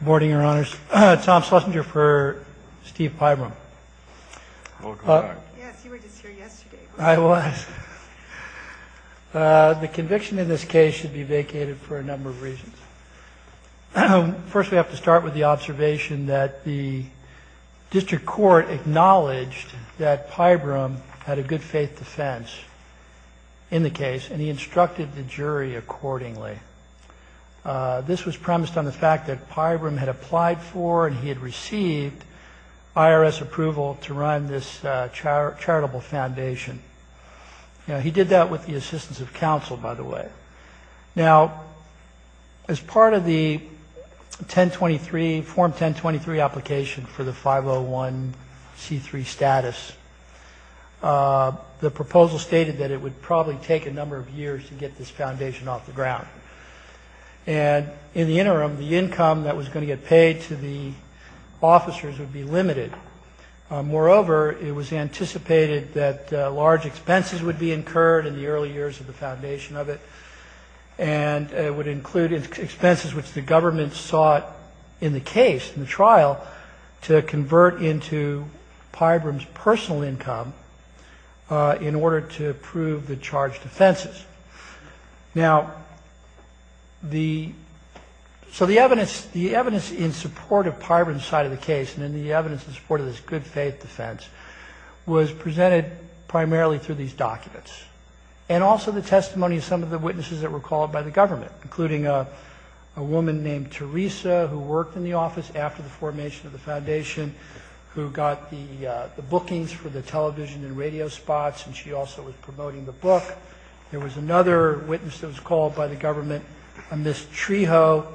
Good morning, Your Honors. Tom Schlesinger for Steve Pybrum. Welcome back. Yes, you were just here yesterday. I was. The conviction in this case should be vacated for a number of reasons. First, we have to start with the observation that the district court acknowledged that Pybrum had a good faith defense in the case, and he instructed the jury accordingly. This was premised on the fact that Pybrum had applied for and he had received IRS approval to run this charitable foundation. He did that with the assistance of counsel, by the way. Now, as part of the 1023, Form 1023 application for the 501 C3 status, the proposal stated that it would probably take a number of years to get this foundation off the ground. And in the interim, the income that was going to get paid to the officers would be limited. Moreover, it was anticipated that large expenses would be incurred in the early years of the foundation of it, and it would include expenses which the government sought in the case, in the trial, to convert into Pybrum's personal income in order to prove the charged offenses. Now, so the evidence in support of Pybrum's side of the case and the evidence in support of this good faith defense was presented primarily through these documents. And also the testimony of some of the witnesses that were called by the government, including a woman named Teresa who worked in the office after the formation of the foundation, who got the bookings for the television and radio spots, and she also was promoting the book. There was another witness that was called by the government, a Miss Trejo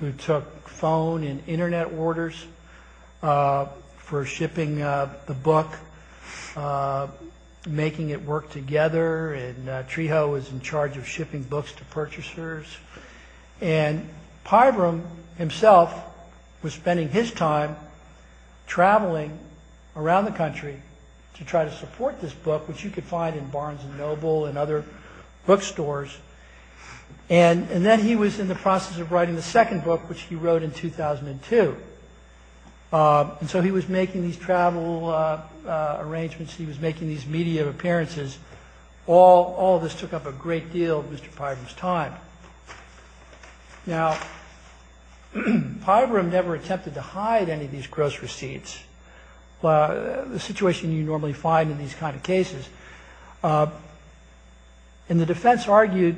who took phone and Internet orders for shipping the book, making it work together, and Trejo was in charge of shipping books to purchasers. And Pybrum himself was spending his time traveling around the country to try to support this book, which you could find in Barnes & Noble and other bookstores. And then he was in the process of writing the second book, which he wrote in 2002. And so he was making these travel arrangements, he was making these media appearances. All this took up a great deal of Mr. Pybrum's time. Now, Pybrum never attempted to hide any of these gross receipts, the situation you normally find in these kind of cases. And the defense argued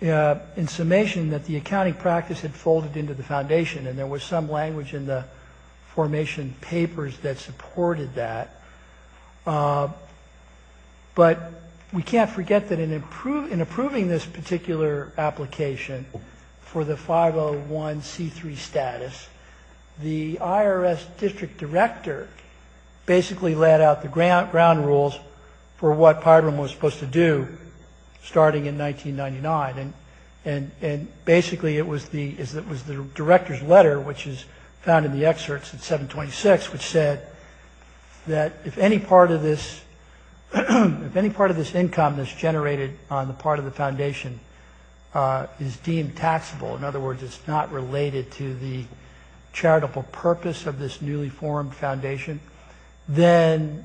in summation that the accounting practice had folded into the foundation and there was some language in the formation papers that supported that. But we can't forget that in approving this particular application for the 501C3 status, the IRS district director basically laid out the ground rules for what Pybrum was supposed to do starting in 1999. And basically it was the director's letter, which is found in the excerpts in 726, which said that if any part of this income that's generated on the part of the foundation is deemed taxable, in other words, it's not related to the charitable purpose of this newly formed foundation, then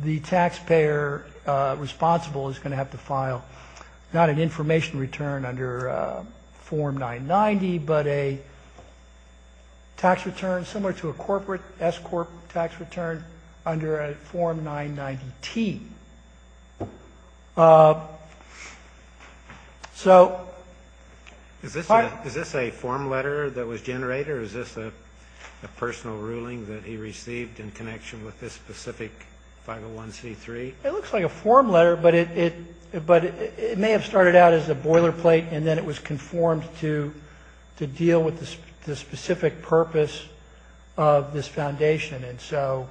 the taxpayer responsible is going to have to file not an information return under Form 990, but a tax return similar to a corporate S corp tax return under a Form 990T. So... Is this a form letter that was generated or is this a personal ruling that he received in connection with this specific 501C3? It looks like a form letter, but it may have started out as a boilerplate and then it was conformed to deal with the specific purpose of this foundation. And so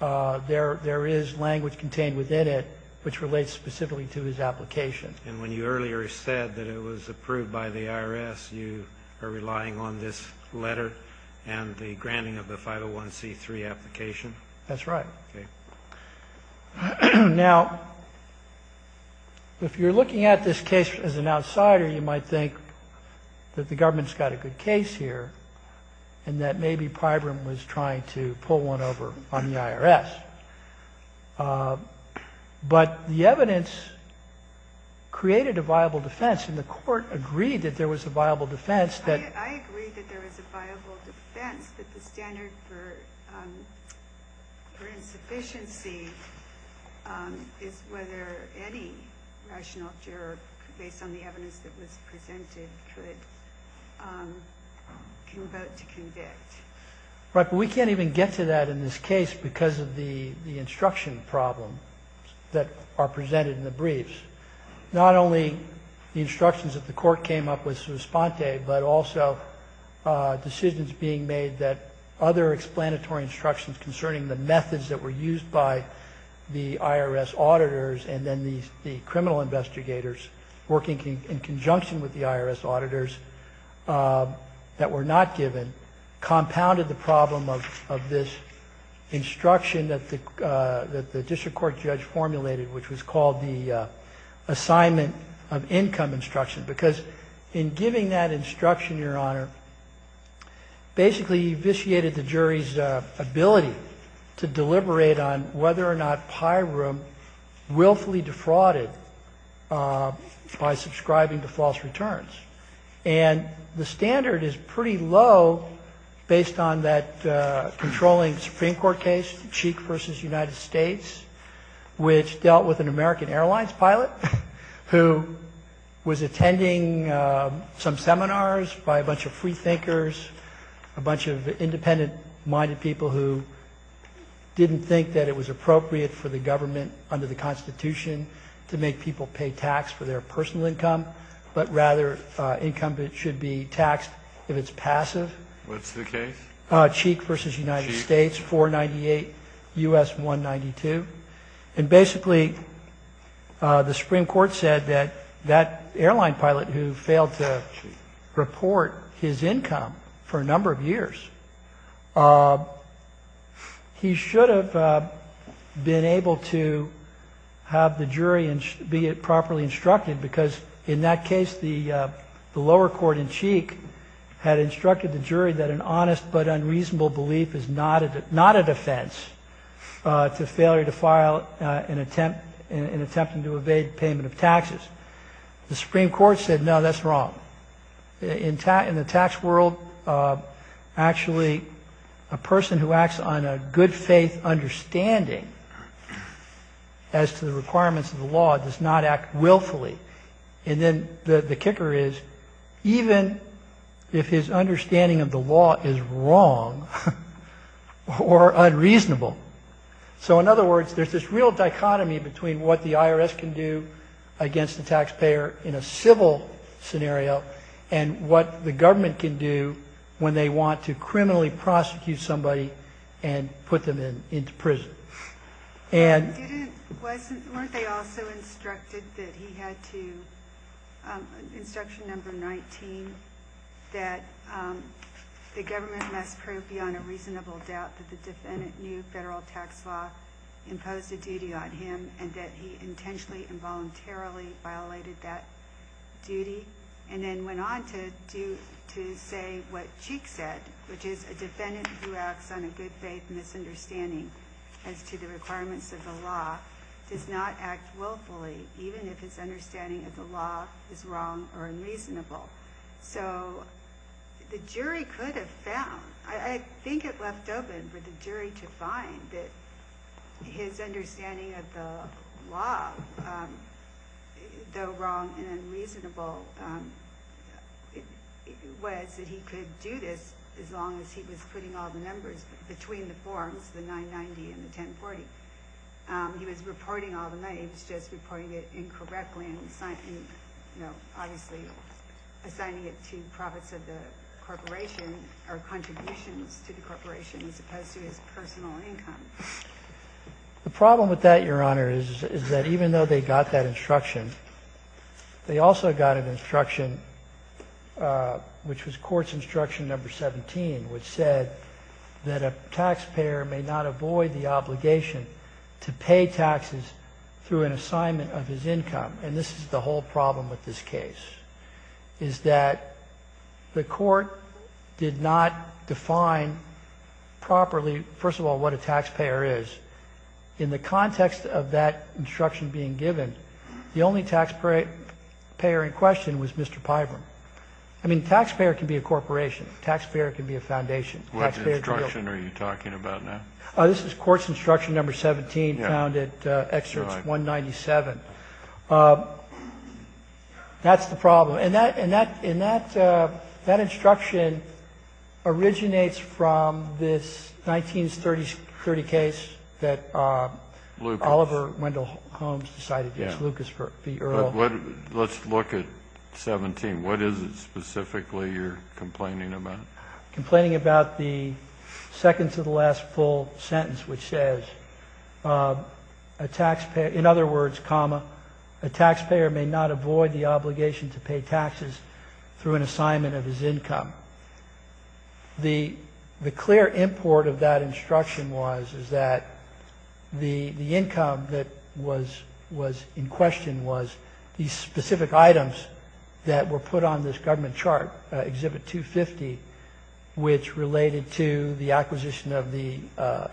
there is language contained within it which relates specifically to his application. And when you earlier said that it was approved by the IRS, you are relying on this letter and the granting of the 501C3 application? That's right. Okay. Now, if you're looking at this case as an outsider, you might think that the government's got a good case here and that maybe Pybram was trying to pull one over on the IRS. But the evidence created a viable defense and the court agreed that there was a viable defense that... I agree that there was a viable defense, but the standard for insufficiency is whether any rational juror, based on the evidence that was presented, could vote to convict. Right. But we can't even get to that in this case because of the instruction problem that are presented in the briefs. Not only the instructions that the court came up with, but also decisions being made that other explanatory instructions concerning the methods that were used by the IRS auditors and then the criminal investigators working in conjunction with the IRS auditors that were not given, compounded the problem of this instruction that the district court judge formulated, which was called the assignment of income instruction. Because in giving that instruction, Your Honor, basically, you vitiated the jury's ability to deliberate on whether or not Pybram willfully defrauded by subscribing to false returns. And the standard is pretty low based on that controlling Supreme Court case, Cheek v. United States, which dealt with an American Airlines pilot who was attending some seminars by a bunch of freethinkers, a bunch of independent-minded people who didn't think that it was appropriate for the government under the Constitution to make people pay tax for their personal income, but rather income that should be taxed if it's passive. What's the case? Cheek v. United States, 498 U.S. 192. And basically, the Supreme Court said that that airline pilot who failed to report his income for a number of years, he should have been able to have the jury be properly instructed because in that case, the lower court in Cheek had instructed the jury that an honest but unreasonable belief is not a defense to failure to file in attempting to evade payment of taxes. The Supreme Court said, no, that's wrong. In the tax world, actually, a person who acts on a good faith understanding as to the requirements of the law does not act willfully. And then the kicker is even if his understanding of the law is wrong or unreasonable. So in other words, there's this real dichotomy between what the IRS can do against the taxpayer in a civil scenario and what the government can do when they want to criminally prosecute somebody and put them into prison. Weren't they also instructed that he had to, instruction number 19, that the government must prove beyond a reasonable doubt that the defendant knew federal tax law imposed a duty on him and that he intentionally and voluntarily violated that duty and then went on to say what Cheek said, which is a defendant who acts on a good faith misunderstanding as to the requirements of the law does not act willfully, even if his understanding of the law is wrong or unreasonable. So the jury could have found, I think it left open for the jury to find that his understanding of the law, though wrong and unreasonable, was that he could do this as long as he was putting all the numbers between the forms, the 990 and the 1040. He was reporting all the names, just reporting it incorrectly and, you know, obviously assigning it to profits of the corporation or contributions to the corporation as opposed to his personal income. The problem with that, Your Honor, is that even though they got that instruction, they also got an instruction, which was court's instruction number 17, which said that a taxpayer may not avoid the obligation to pay taxes through an assignment of his income. And this is the whole problem with this case is that the court did not define properly, first of all, what a taxpayer is. In the context of that instruction being given, the only taxpayer in question was Mr. Pyram. I mean, taxpayer can be a corporation. Taxpayer can be a foundation. What instruction are you talking about now? This is court's instruction number 17 found at Excerpts 197. That's the problem. And that instruction originates from this 1930 case that Oliver Wendell Holmes decided to use Lucas v. Earl. Let's look at 17. What is it specifically you're complaining about? Complaining about the second to the last full sentence, which says, in other words, comma, a taxpayer may not avoid the obligation to pay taxes through an assignment of his income. The clear import of that instruction was that the income that was in question was these specific items that were put on this government chart, Exhibit 250, which related to the acquisition of the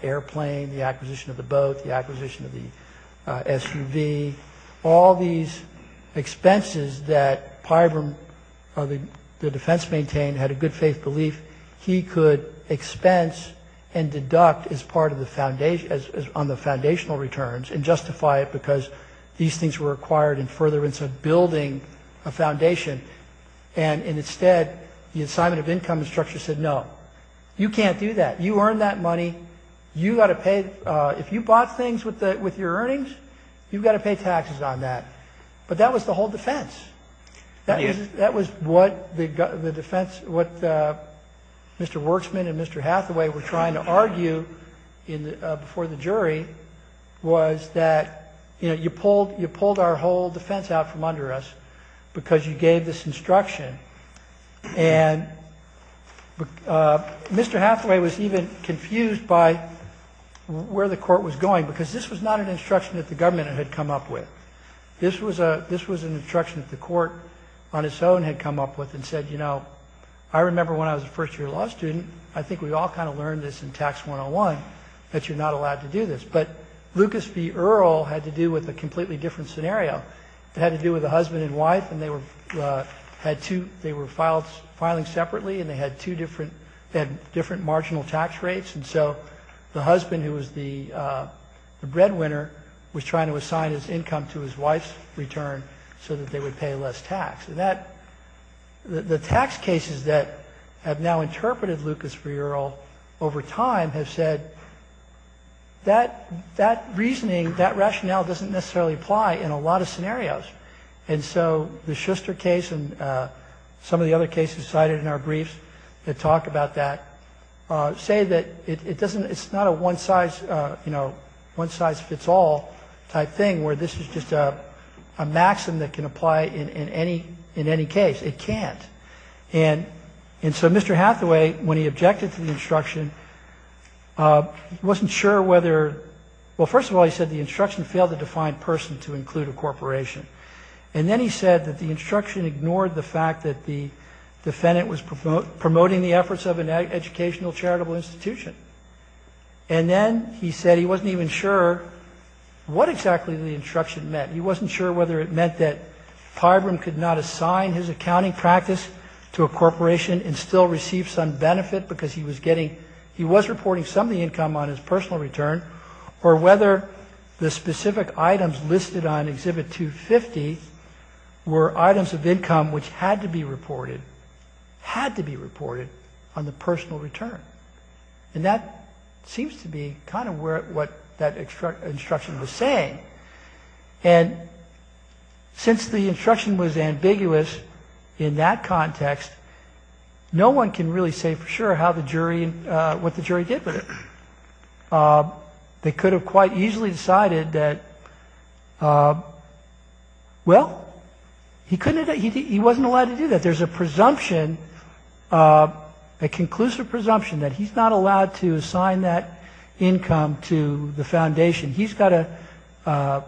airplane, the acquisition of the boat, the acquisition of the SUV, all these expenses that Pyram, the defense maintained, had a good faith belief he could expense and deduct on the foundational returns and justify it because these things were required in furtherance of building a foundation. And instead, the assignment of income instruction said, no, you can't do that. You earned that money. If you bought things with your earnings, you've got to pay taxes on that. But that was the whole defense. That was what the defense, what Mr. Worksman and Mr. Hathaway were trying to argue before the jury, was that you pulled our whole defense out from under us because you gave this instruction. And Mr. Hathaway was even confused by where the court was going because this was not an instruction that the government had come up with. This was an instruction that the court on its own had come up with and said, you know, I remember when I was a first-year law student. I think we all kind of learned this in Tax 101 that you're not allowed to do this. But Lucas v. Earle had to do with a completely different scenario. It had to do with a husband and wife, and they were filing separately, and they had different marginal tax rates. And so the husband, who was the breadwinner, was trying to assign his income to his wife's return so that they would pay less tax. The tax cases that have now interpreted Lucas v. Earle over time have said, that reasoning, that rationale doesn't necessarily apply in a lot of scenarios. And so the Schuster case and some of the other cases cited in our briefs that talk about that say that it's not a one-size-fits-all type thing where this is just a maxim that can apply in any case. It can't. And so Mr. Hathaway, when he objected to the instruction, wasn't sure whether – well, first of all, he said the instruction failed to define person to include a corporation. And then he said that the instruction ignored the fact that the defendant was promoting the efforts of an educational charitable institution. And then he said he wasn't even sure what exactly the instruction meant. He wasn't sure whether it meant that Pybram could not assign his accounting practice to a corporation and still receive some benefit because he was getting – he was reporting some of the income on his personal return, or whether the specific items listed on Exhibit 250 were items of income which had to be reported – had to be reported on the personal return. And that seems to be kind of what that instruction was saying. And since the instruction was ambiguous in that context, no one can really say for sure how the jury – what the jury did with it. They could have quite easily decided that, well, he couldn't – he wasn't allowed to do that. There's a presumption, a conclusive presumption, that he's not allowed to assign that income to the foundation. He's got to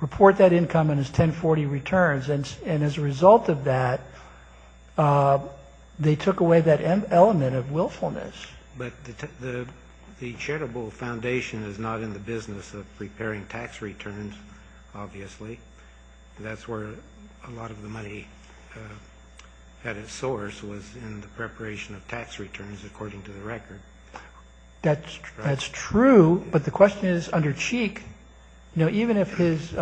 report that income in his 1040 returns. And as a result of that, they took away that element of willfulness. But the charitable foundation is not in the business of preparing tax returns, obviously. That's where a lot of the money at its source was in the preparation of tax returns, according to the record. That's true, but the question is, under Cheek, even if his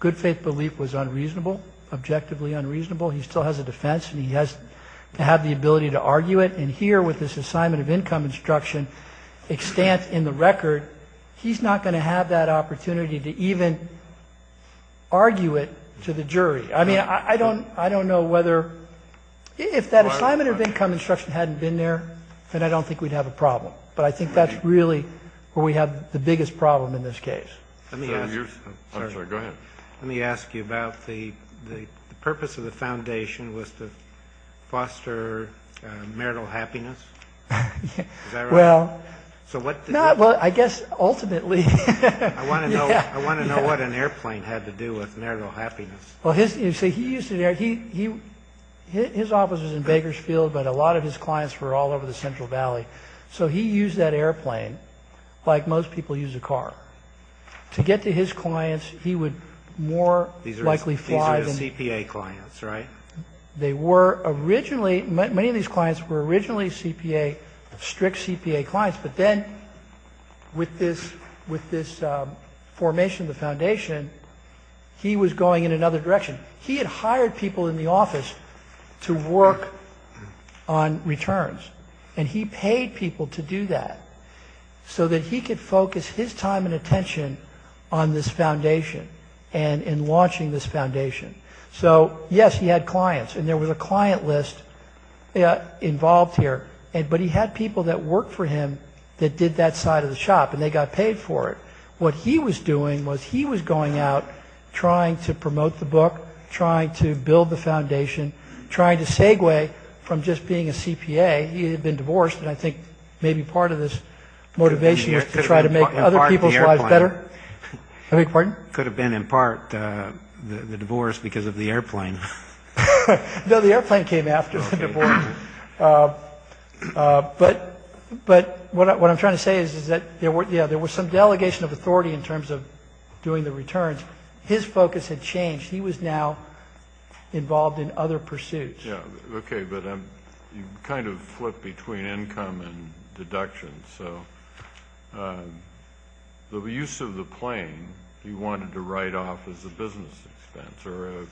good-faith belief was unreasonable, objectively unreasonable, he still has a defense and he has to have the ability to argue it. And here, with this assignment of income instruction extant in the record, he's not going to have that opportunity to even argue it to the jury. I mean, I don't know whether – if that assignment of income instruction hadn't been there, then I don't think we'd have a problem. But I think that's really where we have the biggest problem in this case. Let me ask you about the purpose of the foundation was to foster marital happiness? Well, I guess ultimately – I want to know what an airplane had to do with marital happiness. Well, his office was in Bakersfield, but a lot of his clients were all over the Central Valley. So he used that airplane, like most people use a car. To get to his clients, he would more likely fly – These are his CPA clients, right? They were originally – many of these clients were originally CPA – strict CPA clients. But then, with this formation of the foundation, he was going in another direction. He had hired people in the office to work on returns, and he paid people to do that so that he could focus his time and attention on this foundation and in launching this foundation. So, yes, he had clients, and there was a client list involved here, but he had people that worked for him that did that side of the shop, and they got paid for it. What he was doing was he was going out, trying to promote the book, trying to build the foundation, trying to segue from just being a CPA. He had been divorced, and I think maybe part of his motivation was to try to make other people's lives better. Pardon? It could have been in part the divorce because of the airplane. No, the airplane came after the divorce. But what I'm trying to say is that there was some delegation of authority in terms of doing the returns. His focus had changed. He was now involved in other pursuits. Yeah, okay, but you kind of flip between income and deductions. So the use of the plane he wanted to write off as a business expense or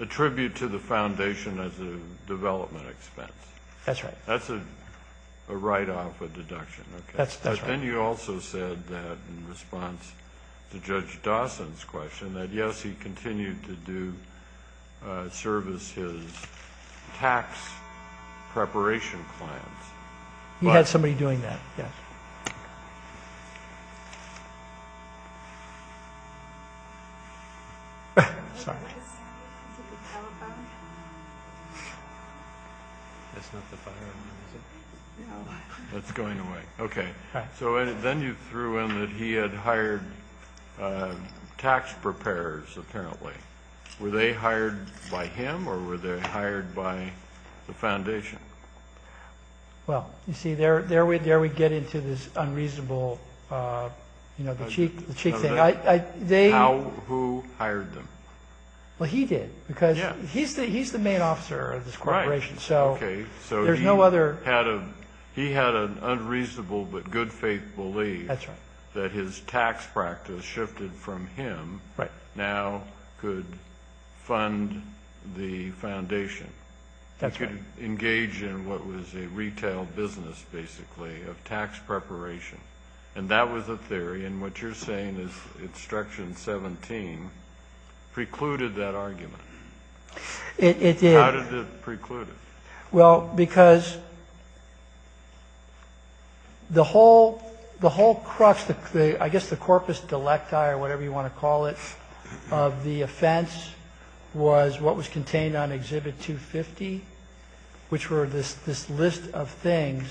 a tribute to the foundation as a development expense. That's right. That's a write-off, a deduction. That's right. Then you also said that in response to Judge Dawson's question that, yes, he continued to service his tax preparation plans. He had somebody doing that, yes. Sorry. That's not the fire alarm, is it? It's going away. Okay. So then you threw in that he had hired tax preparers, apparently. Were they hired by him or were they hired by the foundation? Well, you see, there we get into this unreasonable, you know, the cheap thing. Who hired them? Well, he did because he's the main officer of this corporation. So there's no other. He had an unreasonable but good faith belief that his tax practice shifted from him now could fund the foundation, could engage in what was a retail business, basically, of tax preparation. And that was a theory. And what you're saying is Instruction 17 precluded that argument. It did. How did it preclude it? Well, because the whole crux, I guess the corpus delecti or whatever you want to call it, of the offense was what was contained on Exhibit 250, which were this list of things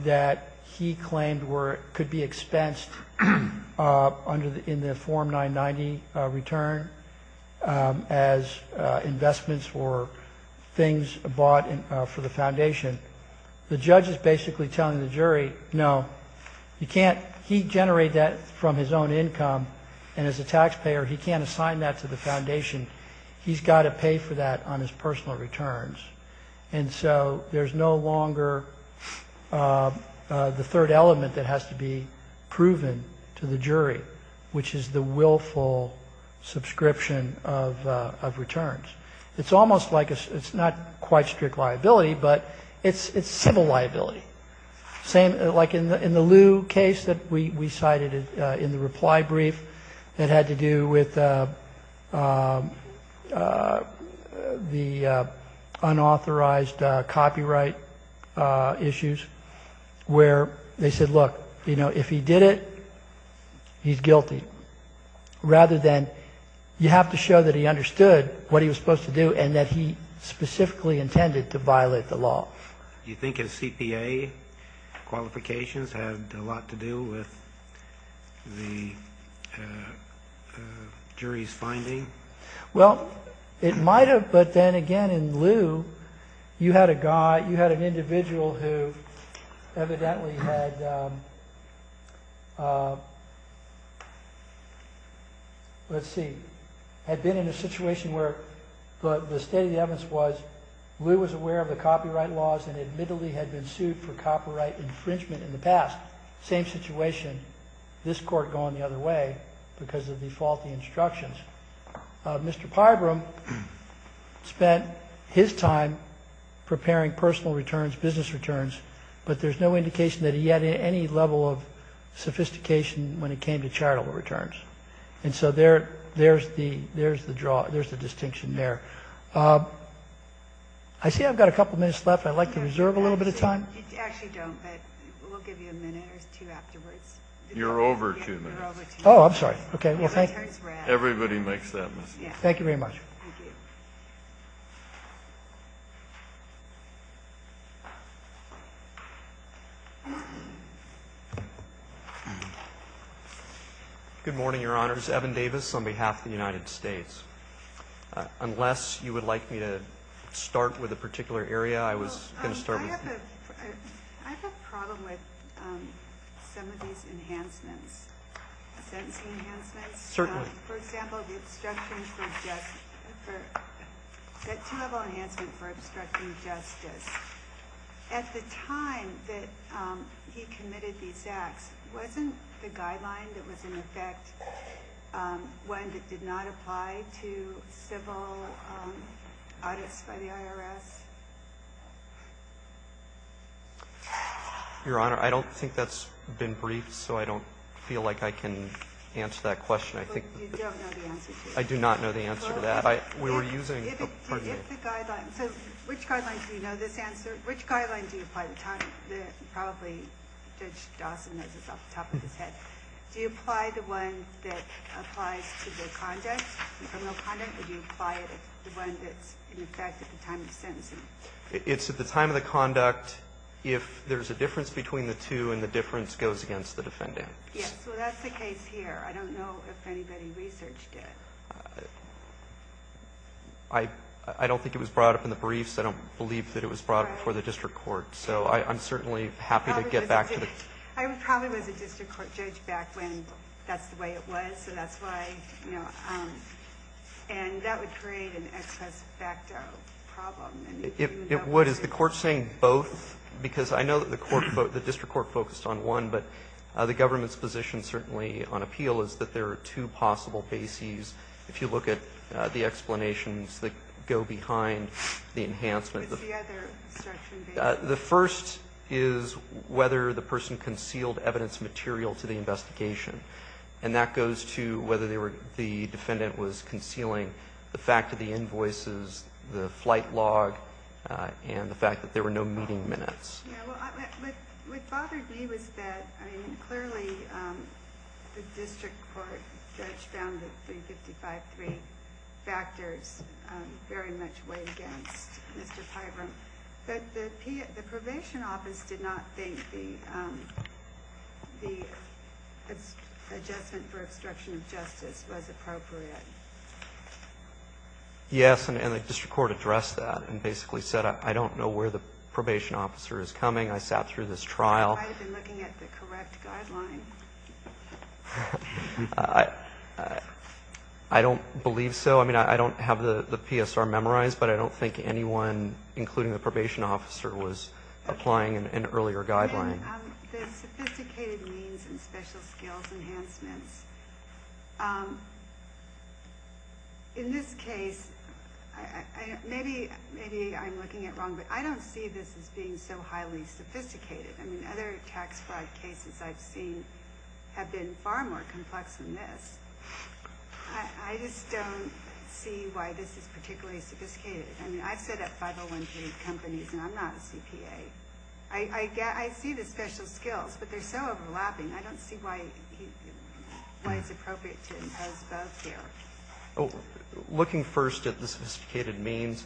that he claimed could be expensed in the Form 990 return as investments for things bought for the foundation. The judge is basically telling the jury, no, you can't. He generated that from his own income. And as a taxpayer, he can't assign that to the foundation. He's got to pay for that on his personal returns. And so there's no longer the third element that has to be proven to the jury, which is the willful subscription of returns. It's almost like it's not quite strict liability, but it's civil liability. Like in the Lew case that we cited in the reply brief that had to do with the unauthorized copyright issues, where they said, look, if he did it, he's guilty, rather than you have to show that he understood what he was supposed to do and that he specifically intended to violate the law. Do you think his CPA qualifications had a lot to do with the jury's finding? Well, it might have. But then again, in Lew, you had an individual who evidently had been in a situation where the state of the evidence was Lew was aware of the copyright laws and admittedly had been sued for copyright infringement in the past. Same situation, this court going the other way because of the faulty instructions. Mr. Pybram spent his time preparing personal returns, business returns, but there's no indication that he had any level of sophistication when it came to charitable returns. And so there's the distinction there. I see I've got a couple minutes left. I'd like to reserve a little bit of time. Actually, don't, but we'll give you a minute or two afterwards. You're over two minutes. Oh, I'm sorry. Everybody makes that mistake. Thank you very much. Thank you. Good morning, Your Honors. Evan Davis on behalf of the United States. Unless you would like me to start with a particular area, I was going to start with you. I have a problem with some of these enhancements, sentencing enhancements. Certainly. For example, the two-level enhancement for obstructing justice. At the time that he committed these acts, wasn't the guideline that was in effect one that did not apply to civil audits by the IRS? Your Honor, I don't think that's been briefed, so I don't feel like I can answer that question. You don't know the answer to that? I do not know the answer to that. We were using the part of the. So which guidelines do you know this answer? Which guidelines do you apply? Probably Judge Dawson knows this off the top of his head. Do you apply the one that applies to the conduct, the criminal conduct, or do you apply the one that's in effect at the time of the sentencing? It's at the time of the conduct if there's a difference between the two and the difference goes against the defendant. Yes. So that's the case here. I don't know if anybody researched it. I don't think it was brought up in the briefs. I don't believe that it was brought before the district court. So I'm certainly happy to get back to the. I probably was a district court judge back when that's the way it was. So that's why, you know, and that would create an ex-presso facto problem. It would. Is the court saying both? Because I know that the court, the district court focused on one, but the government's position certainly on appeal is that there are two possible bases if you look at the explanations that go behind the enhancement. What's the other section? The first is whether the person concealed evidence material to the investigation. And that goes to whether the defendant was concealing the fact that the invoices, the flight log, and the fact that there were no meeting minutes. What bothered me was that, I mean, clearly the district court judge found that 355.3 factors very much weighed against Mr. Pyram, but the probation office did not think the adjustment for obstruction of justice was appropriate. Yes, and the district court addressed that and basically said, I don't know where the probation officer is coming. I sat through this trial. I might have been looking at the correct guideline. I don't believe so. I mean, I don't have the PSR memorized, but I don't think anyone, including the probation officer, was applying an earlier guideline. The sophisticated means and special skills enhancements. In this case, maybe I'm looking at wrong, but I don't see this as being so highly sophisticated. I mean, other tax fraud cases I've seen have been far more complex than this. I just don't see why this is particularly sophisticated. I mean, I've sat at 501C companies, and I'm not a CPA. I see the special skills, but they're so overlapping. I don't see why it's appropriate to impose both here. Looking first at the sophisticated means,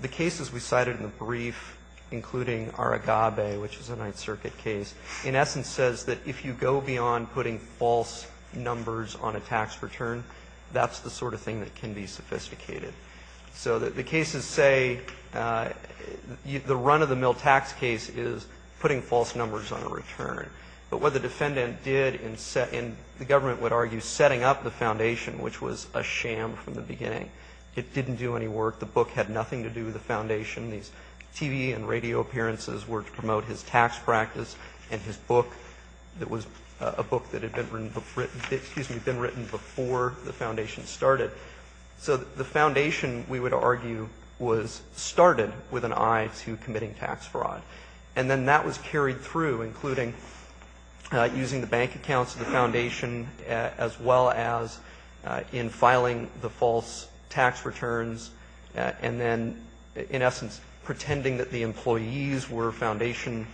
the cases we cited in the brief, including Aragabe, which is a Ninth Circuit case, in essence says that if you go beyond putting false numbers on a tax return, that's the sort of thing that can be sophisticated. So the cases say the run-of-the-mill tax case is putting false numbers on a return. But what the defendant did in the government would argue setting up the foundation, which was a sham from the beginning. It didn't do any work. The book had nothing to do with the foundation. These TV and radio appearances were to promote his tax practice, and his book that was a book that had been written before the foundation started. So the foundation, we would argue, was started with an eye to committing tax fraud. And then that was carried through, including using the bank accounts of the foundation, as well as in filing the false tax returns, and then in essence pretending that the employees were foundation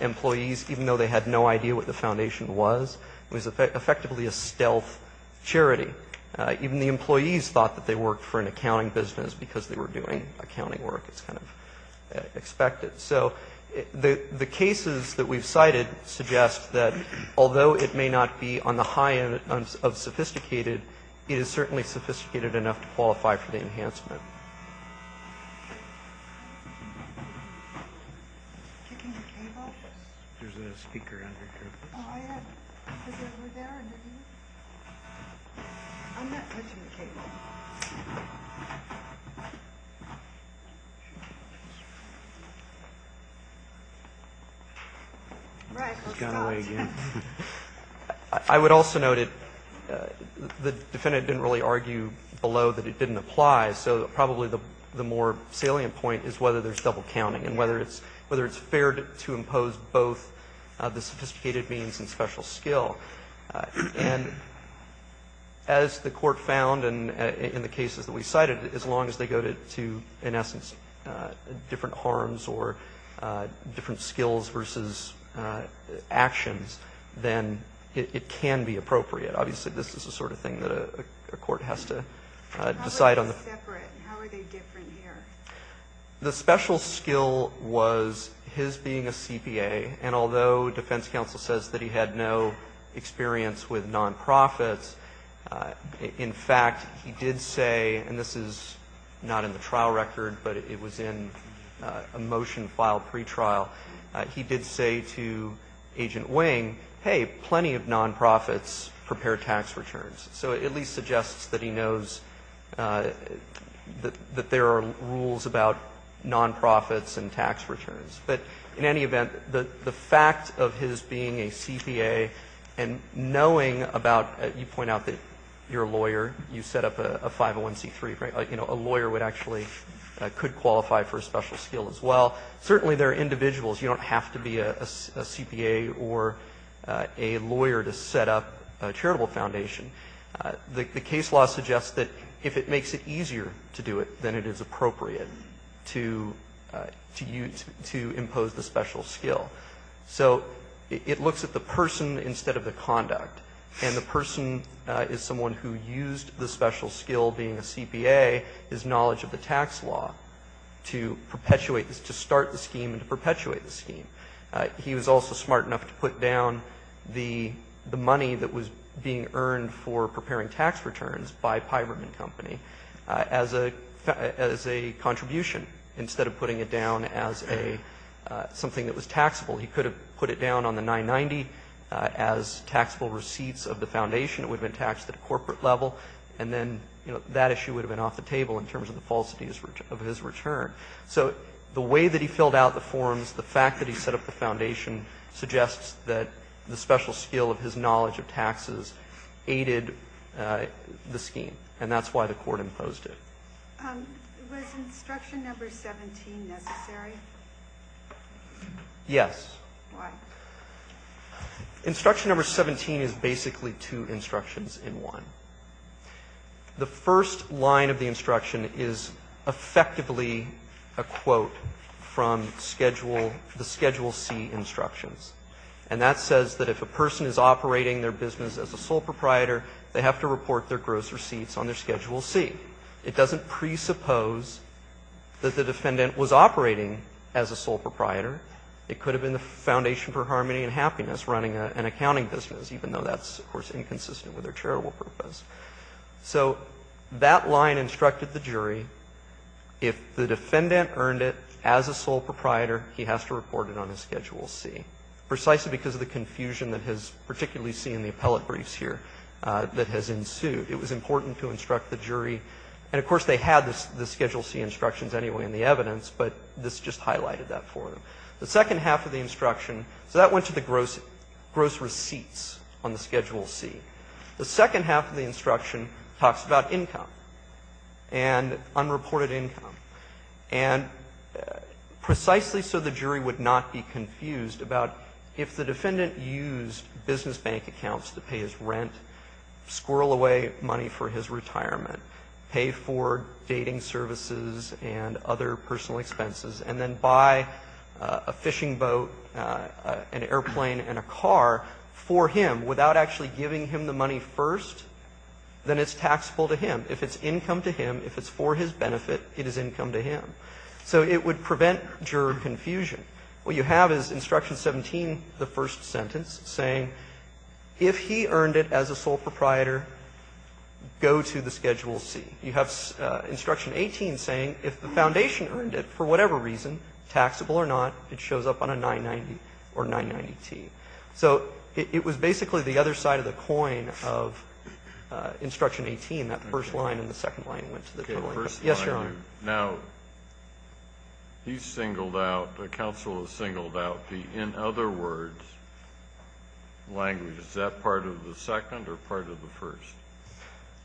employees, even though they had no idea what the foundation was. It was effectively a stealth charity. Even the employees thought that they worked for an accounting business because they were doing accounting work. It was kind of expected. So the cases that we've cited suggest that although it may not be on the high end of sophisticated, it is certainly sophisticated enough to qualify for the enhancement. I would also note that the defendant didn't really argue below that it didn't apply, so probably the more salient point is whether there's double counting and whether it's fair to impose both the sophisticated means and special skill. And as the Court found in the cases that we cited, as long as they go to, in essence, different harms or different skills versus actions, then it can be appropriate. Obviously this is the sort of thing that a court has to decide on. How are they separate? How are they different here? The special skill was his being a CPA, and although defense counsel says that he had no experience with nonprofits, in fact, he did say, and this is not in the trial record, but it was in a motion filed pretrial, he did say to Agent Wing, hey, plenty of nonprofits prepare tax returns. So it at least suggests that he knows that there are rules about nonprofits and tax returns. But in any event, the fact of his being a CPA and knowing about, you point out that you're a lawyer, you set up a 501c3, a lawyer would actually could qualify for a special skill as well. Certainly there are individuals. You don't have to be a CPA or a lawyer to set up a charitable foundation. The case law suggests that if it makes it easier to do it, then it is appropriate to impose the special skill. So it looks at the person instead of the conduct, and the person is someone who used the special skill being a CPA, his knowledge of the tax law to perpetuate this, to start the scheme and to perpetuate the scheme. He was also smart enough to put down the money that was being earned for preparing tax returns by Piberman Company as a contribution, instead of putting it down as something that was taxable. He could have put it down on the 990 as taxable receipts of the foundation. It would have been taxed at a corporate level, and then that issue would have been off the table in terms of the falsities of his return. So the way that he filled out the forms, the fact that he set up the foundation suggests that the special skill of his knowledge of taxes aided the scheme, and that's why the court imposed it. Was instruction number 17 necessary? Yes. Why? Instruction number 17 is basically two instructions in one. The first line of the instruction is effectively a quote from schedule the schedule C instructions, and that says that if a person is operating their business as a sole proprietor, they have to report their gross receipts on their schedule C. It doesn't presuppose that the defendant was operating as a sole proprietor. It could have been the Foundation for Harmony and Happiness running an accounting business, even though that's, of course, inconsistent with their charitable purpose. So that line instructed the jury, if the defendant earned it as a sole proprietor, he has to report it on his schedule C, precisely because of the confusion that has particularly seen in the appellate briefs here that has ensued. It was important to instruct the jury. And, of course, they had the schedule C instructions anyway in the evidence, but this just highlighted that for them. The second half of the instruction, so that went to the gross receipts on the schedule C. The second half of the instruction talks about income and unreported income. And precisely so the jury would not be confused about if the defendant used business bank accounts to pay his rent, squirrel away money for his retirement, pay for dating services and other personal expenses, and then buy a fishing boat, an airplane and a car for him without actually giving him the money first, then it's taxable to him. If it's income to him, if it's for his benefit, it is income to him. So it would prevent juror confusion. What you have is Instruction 17, the first sentence, saying if he earned it as a sole proprietor, go to the schedule C. You have Instruction 18 saying if the foundation earned it for whatever reason, taxable or not, it shows up on a 990 or 990-T. So it was basically the other side of the coin of Instruction 18, that first line and the second line went to the total income. Yes, Your Honor. Now, he's singled out, the counsel has singled out the in other words language. Is that part of the second or part of the first?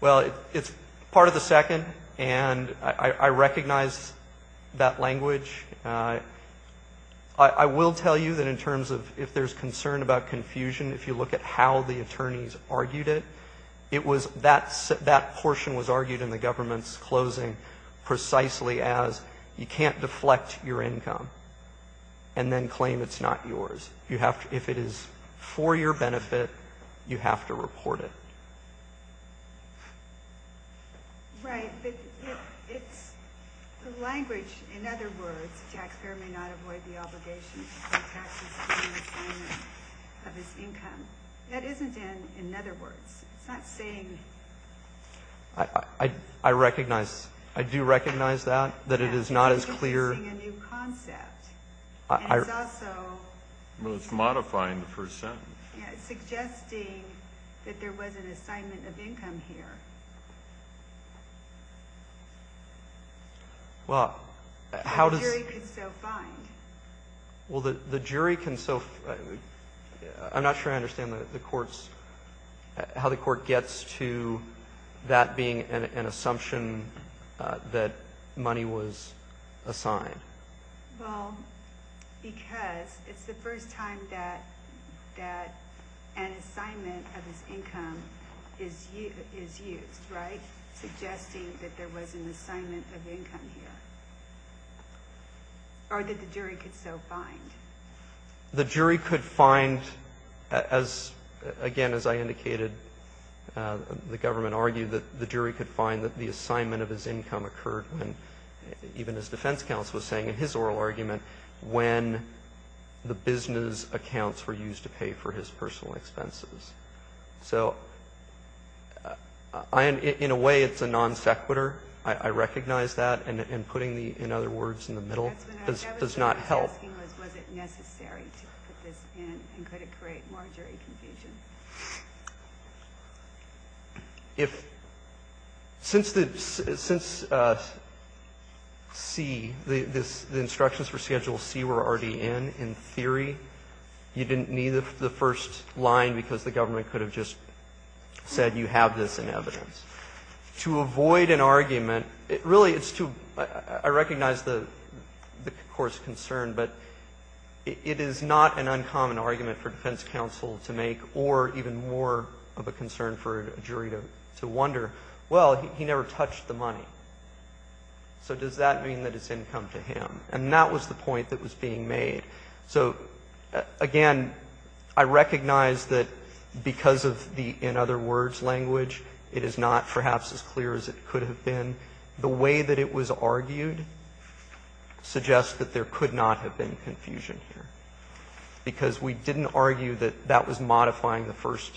Well, it's part of the second, and I recognize that language. I will tell you that in terms of if there's concern about confusion, if you look at how the attorneys argued it, it was that portion was argued in the government's closing precisely as you can't deflect your income and then claim it's not yours. You have to, if it is for your benefit, you have to report it. Right. But it's the language, in other words, taxpayer may not avoid the obligation to pay taxes on assignment of his income. That isn't in other words. It's not saying. I recognize. I do recognize that, that it is not as clear. Well, it's modifying the first sentence. Yeah, it's suggesting that there was an assignment of income here. Well, how does. The jury can still find. Well, the jury can still. I'm not sure I understand the court's, how the court gets to that being an assumption that money was assigned. Well, because it's the first time that an assignment of his income is used, right? Suggesting that there was an assignment of income here. Or that the jury could still find. The jury could find, again, as I indicated, the government argued that the jury could find that the assignment of his income occurred when, even his defense counsel was saying in his oral argument, when the business accounts were used to pay for his personal expenses. So in a way, it's a non sequitur. I recognize that. And putting the, in other words, in the middle does not help. That's what I was asking was, was it necessary to put this in and could it create more jury confusion? If, since the, since C, the instructions for Schedule C were already in, in theory, you didn't need the first line because the government could have just said you have this in evidence. To avoid an argument, it really is to, I recognize the court's concern, but it is not an uncommon argument for defense counsel to make, or even more of a concern for a jury to wonder, well, he never touched the money. So does that mean that it's income to him? And that was the point that was being made. So, again, I recognize that because of the, in other words, language, it is not perhaps as clear as it could have been. And the way that it was argued suggests that there could not have been confusion here, because we didn't argue that that was modifying the first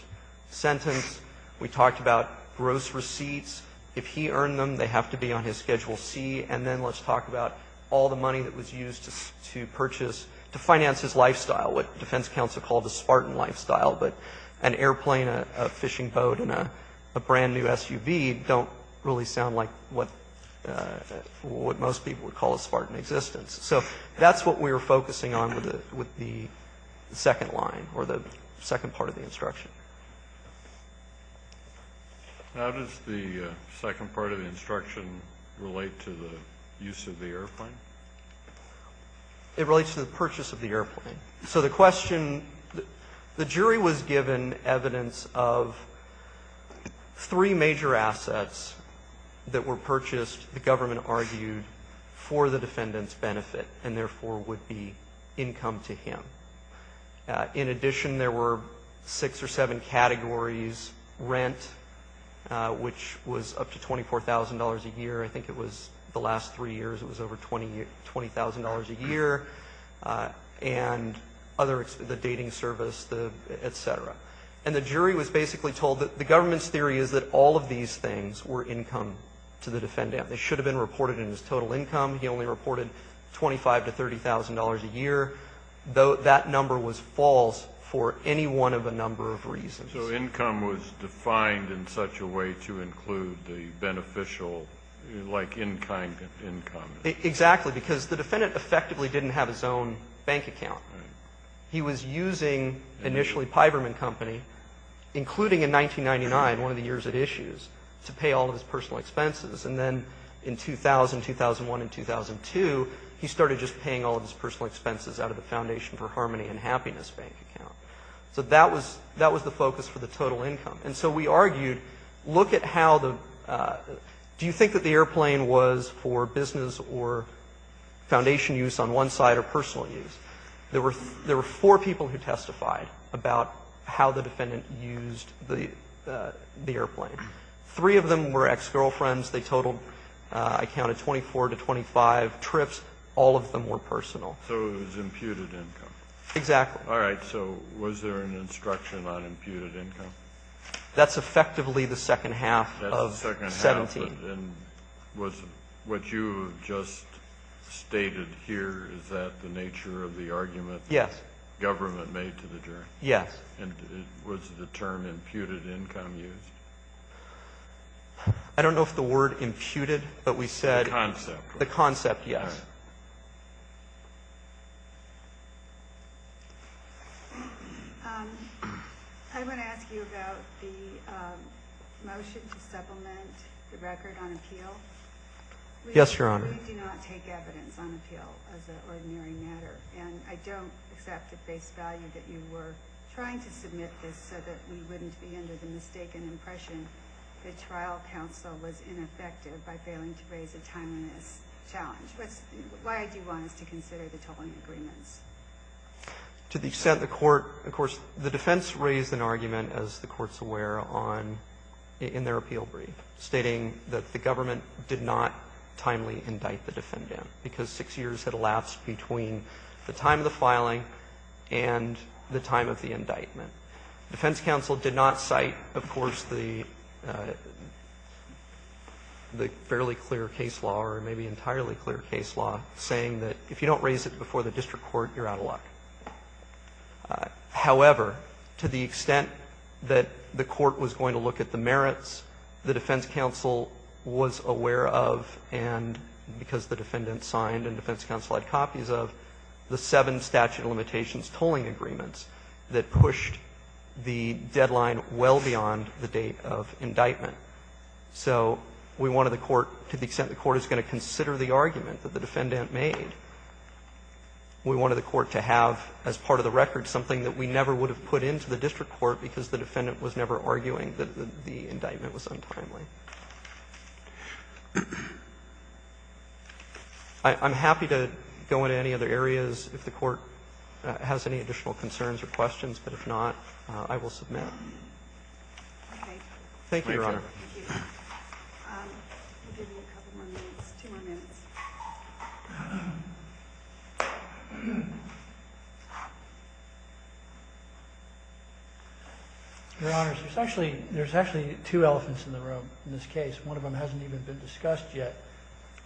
sentence. We talked about gross receipts. If he earned them, they have to be on his Schedule C. And then let's talk about all the money that was used to purchase, to finance his lifestyle, what defense counsel called a Spartan lifestyle. But an airplane, a fishing boat, and a brand-new SUV don't really sound like what most people would call a Spartan existence. So that's what we were focusing on with the second line, or the second part of the instruction. Kennedy. How does the second part of the instruction relate to the use of the airplane? It relates to the purchase of the airplane. So the question, the jury was given evidence of three major assets that were purchased, the government argued, for the defendant's benefit, and therefore would be income to him. In addition, there were six or seven categories. Rent, which was up to $24,000 a year. I think it was the last three years it was over $20,000 a year. And other, the dating service, et cetera. And the jury was basically told that the government's theory is that all of these things were income to the defendant. They should have been reported in his total income. He only reported $25,000 to $30,000 a year, though that number was false for any one of a number of reasons. So income was defined in such a way to include the beneficial, like in-kind income. Exactly, because the defendant effectively didn't have his own bank account. He was using initially Piberman Company, including in 1999, one of the years it issues, to pay all of his personal expenses. And then in 2000, 2001, and 2002, he started just paying all of his personal expenses out of the Foundation for Harmony and Happiness bank account. So that was the focus for the total income. And so we argued, look at how the, do you think that the airplane was for business or Foundation use on one side or personal use? There were four people who testified about how the defendant used the airplane. Three of them were ex-girlfriends. They totaled, I counted, 24 to 25 trips. All of them were personal. Kennedy. So it was imputed income. Waxman. Exactly. Kennedy. All right. So was there an instruction on imputed income? Waxman. That's effectively the second half of 17. And was what you just stated here, is that the nature of the argument? Yes. Government made to the jury. Yes. And was the term imputed income used? I don't know if the word imputed, but we said. The concept. The concept, yes. I want to ask you about the motion to supplement the record on appeal. Yes, Your Honor. We do not take evidence on appeal as an ordinary matter. And I don't accept at face value that you were trying to submit this so that we wouldn't be under the mistaken impression that trial counsel was ineffective by failing to raise a timeliness challenge. Why I do want us to consider the tolling agreements. To the extent the court, of course, the defense raised an argument, as the court's aware, in their appeal brief, stating that the government did not timely indict the defendant because six years had elapsed between the time of the filing and the time of the indictment. Defense counsel did not cite, of course, the fairly clear case law or maybe entirely clear case law, saying that if you don't raise it before the district court, you're out of luck. However, to the extent that the court was going to look at the merits, the defense counsel was aware of, and because the defendant signed and defense counsel had copies of, the seven statute of limitations tolling agreements that pushed the deadline well beyond the date of indictment. So we wanted the court, to the extent the court is going to consider the argument that the defendant made, we wanted the court to have as part of the record something that we never would have put into the district court because the defendant was never arguing that the indictment was untimely. I'm happy to go into any other areas if the court has any additional concerns or questions, but if not, I will submit. Thank you, Your Honor. Thank you. We'll give you a couple more minutes, two more minutes. Your Honor, there's actually two elephants in the room in this case. One of them hasn't even been discussed yet.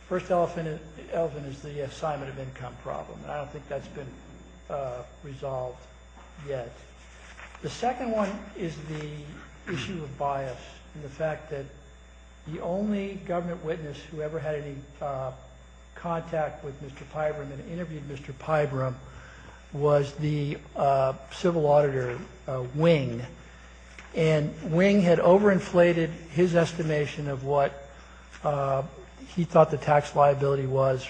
The first elephant is the assignment of income problem, and I don't think that's been resolved yet. The second one is the issue of bias and the fact that the only government witness who ever had any contact with Mr. Pybram and interviewed Mr. Pybram was the civil auditor Wing, and Wing had overinflated his estimation of what he thought the tax liability was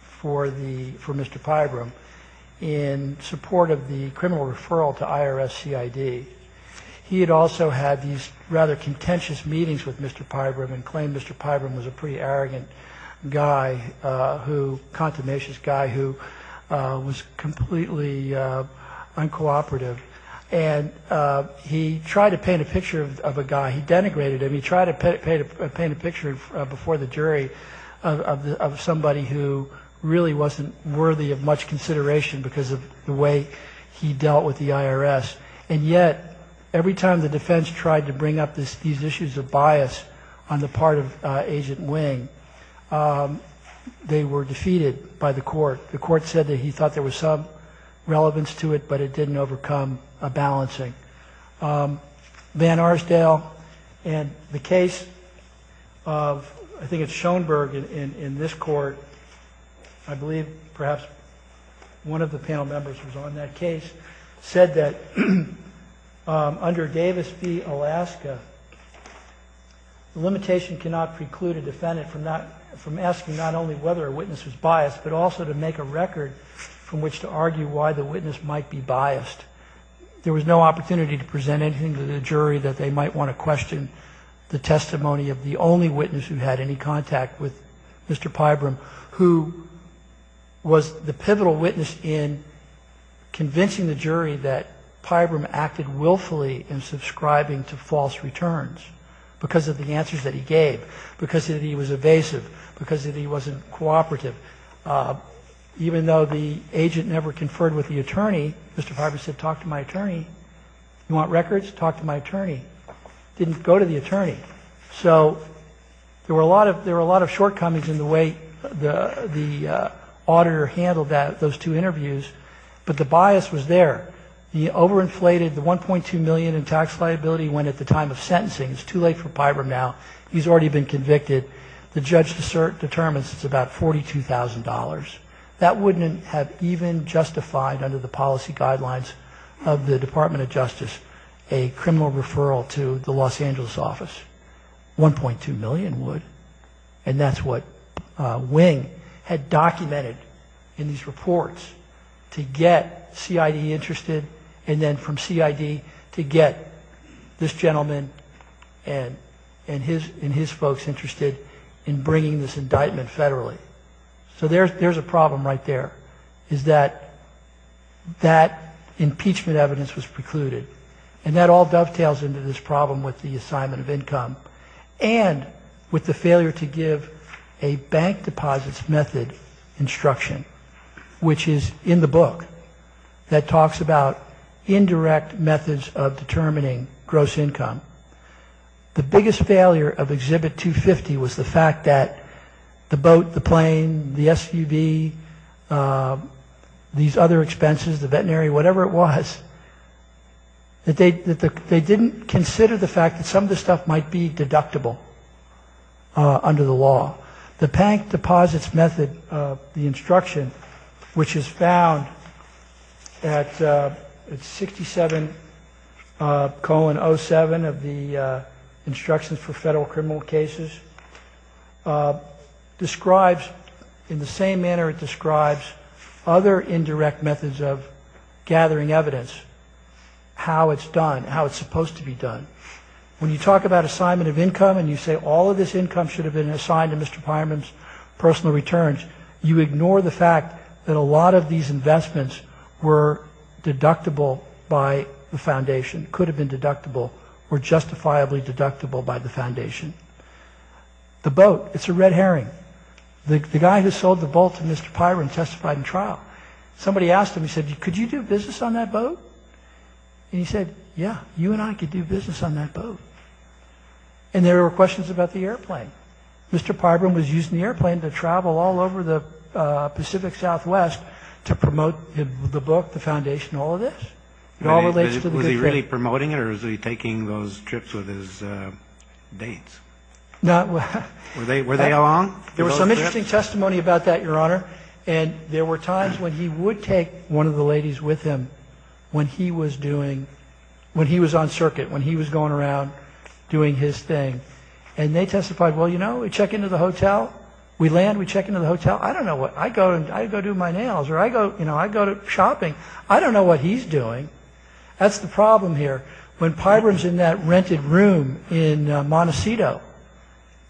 for Mr. Pybram in support of the criminal referral to IRS CID. He had also had these rather contentious meetings with Mr. Pybram and claimed Mr. Pybram was a pretty arrogant guy, a contemnatious guy who was completely uncooperative, and he tried to paint a picture of a guy. He denigrated him. He tried to paint a picture before the jury of somebody who really wasn't worthy of much consideration because of the way he dealt with the IRS, and yet every time the defense tried to bring up these issues of bias on the part of Agent Wing, they were defeated by the court. The court said that he thought there was some relevance to it, but it didn't overcome a balancing. Van Arsdale and the case of, I think it's Schoenberg in this court, I believe perhaps one of the panel members was on that case, said that under Davis v. Alaska, the limitation cannot preclude a defendant from asking not only whether a witness was biased, but also to make a record from which to argue why the witness might be biased. There was no opportunity to present anything to the jury that they might want to question the testimony of the only witness who had any contact with Mr. Pybram, who was the pivotal witness in convincing the jury that Pybram acted willfully in subscribing to false returns because of the answers that he gave, because he was evasive, because he wasn't cooperative. Even though the agent never conferred with the attorney, Mr. Pybram said, talk to my attorney. You want records? Talk to my attorney. Didn't go to the attorney. So there were a lot of shortcomings in the way the auditor handled those two interviews, but the bias was there. The overinflated, the $1.2 million in tax liability went at the time of sentencing. It's too late for Pybram now. He's already been convicted. The judge determines it's about $42,000. That wouldn't have even justified under the policy guidelines of the Department of Justice a criminal referral to the Los Angeles office. $1.2 million would, and that's what Wing had documented in these reports to get CID interested and then from CID to get this gentleman and his folks interested in bringing this indictment federally. So there's a problem right there, is that that impeachment evidence was precluded, and that all dovetails into this problem with the assignment of income and with the failure to give a bank deposits method instruction, which is in the book that talks about indirect methods of determining gross income. The biggest failure of Exhibit 250 was the fact that the boat, the plane, the SUV, these other expenses, the veterinary, whatever it was, that they didn't consider the fact that some of this stuff might be deductible under the law. The bank deposits method, the instruction, which is found at 67 colon 07 of the instructions for federal criminal cases, describes in the same manner it describes other indirect methods of gathering evidence, how it's done, how it's supposed to be done. When you talk about assignment of income and you say all of this income should have been assigned to Mr. Pyron's personal returns, you ignore the fact that a lot of these investments were deductible by the foundation, could have been deductible or justifiably deductible by the foundation. The boat, it's a red herring. The guy who sold the boat to Mr. Pyron testified in trial. Somebody asked him, he said, could you do business on that boat? And he said, yeah, you and I could do business on that boat. And there were questions about the airplane. Mr. Pyron was using the airplane to travel all over the Pacific Southwest to promote the book, the foundation, all of this. Was he really promoting it or was he taking those trips with his dates? Were they along? There was some interesting testimony about that, Your Honor, and there were times when he would take one of the ladies with him when he was doing, when he was on circuit, when he was going around doing his thing. And they testified, well, you know, we check into the hotel. We land, we check into the hotel. I don't know what, I go do my nails or I go shopping. I don't know what he's doing. That's the problem here. When Pyron's in that rented room in Montecito,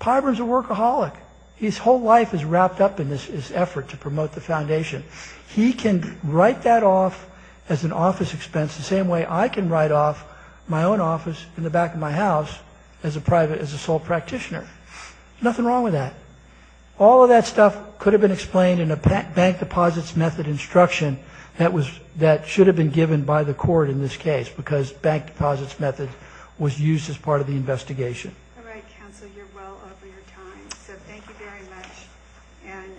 Pyron's a workaholic. His whole life is wrapped up in this effort to promote the foundation. He can write that off as an office expense the same way I can write off my own office in the back of my house as a sole practitioner. Nothing wrong with that. All of that stuff could have been explained in a bank deposits method instruction that should have been given by the court in this case because bank deposits method was used as part of the investigation. All right, counsel. You're well over your time, so thank you very much. And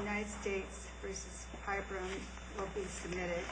United States v. Pyron will be submitted.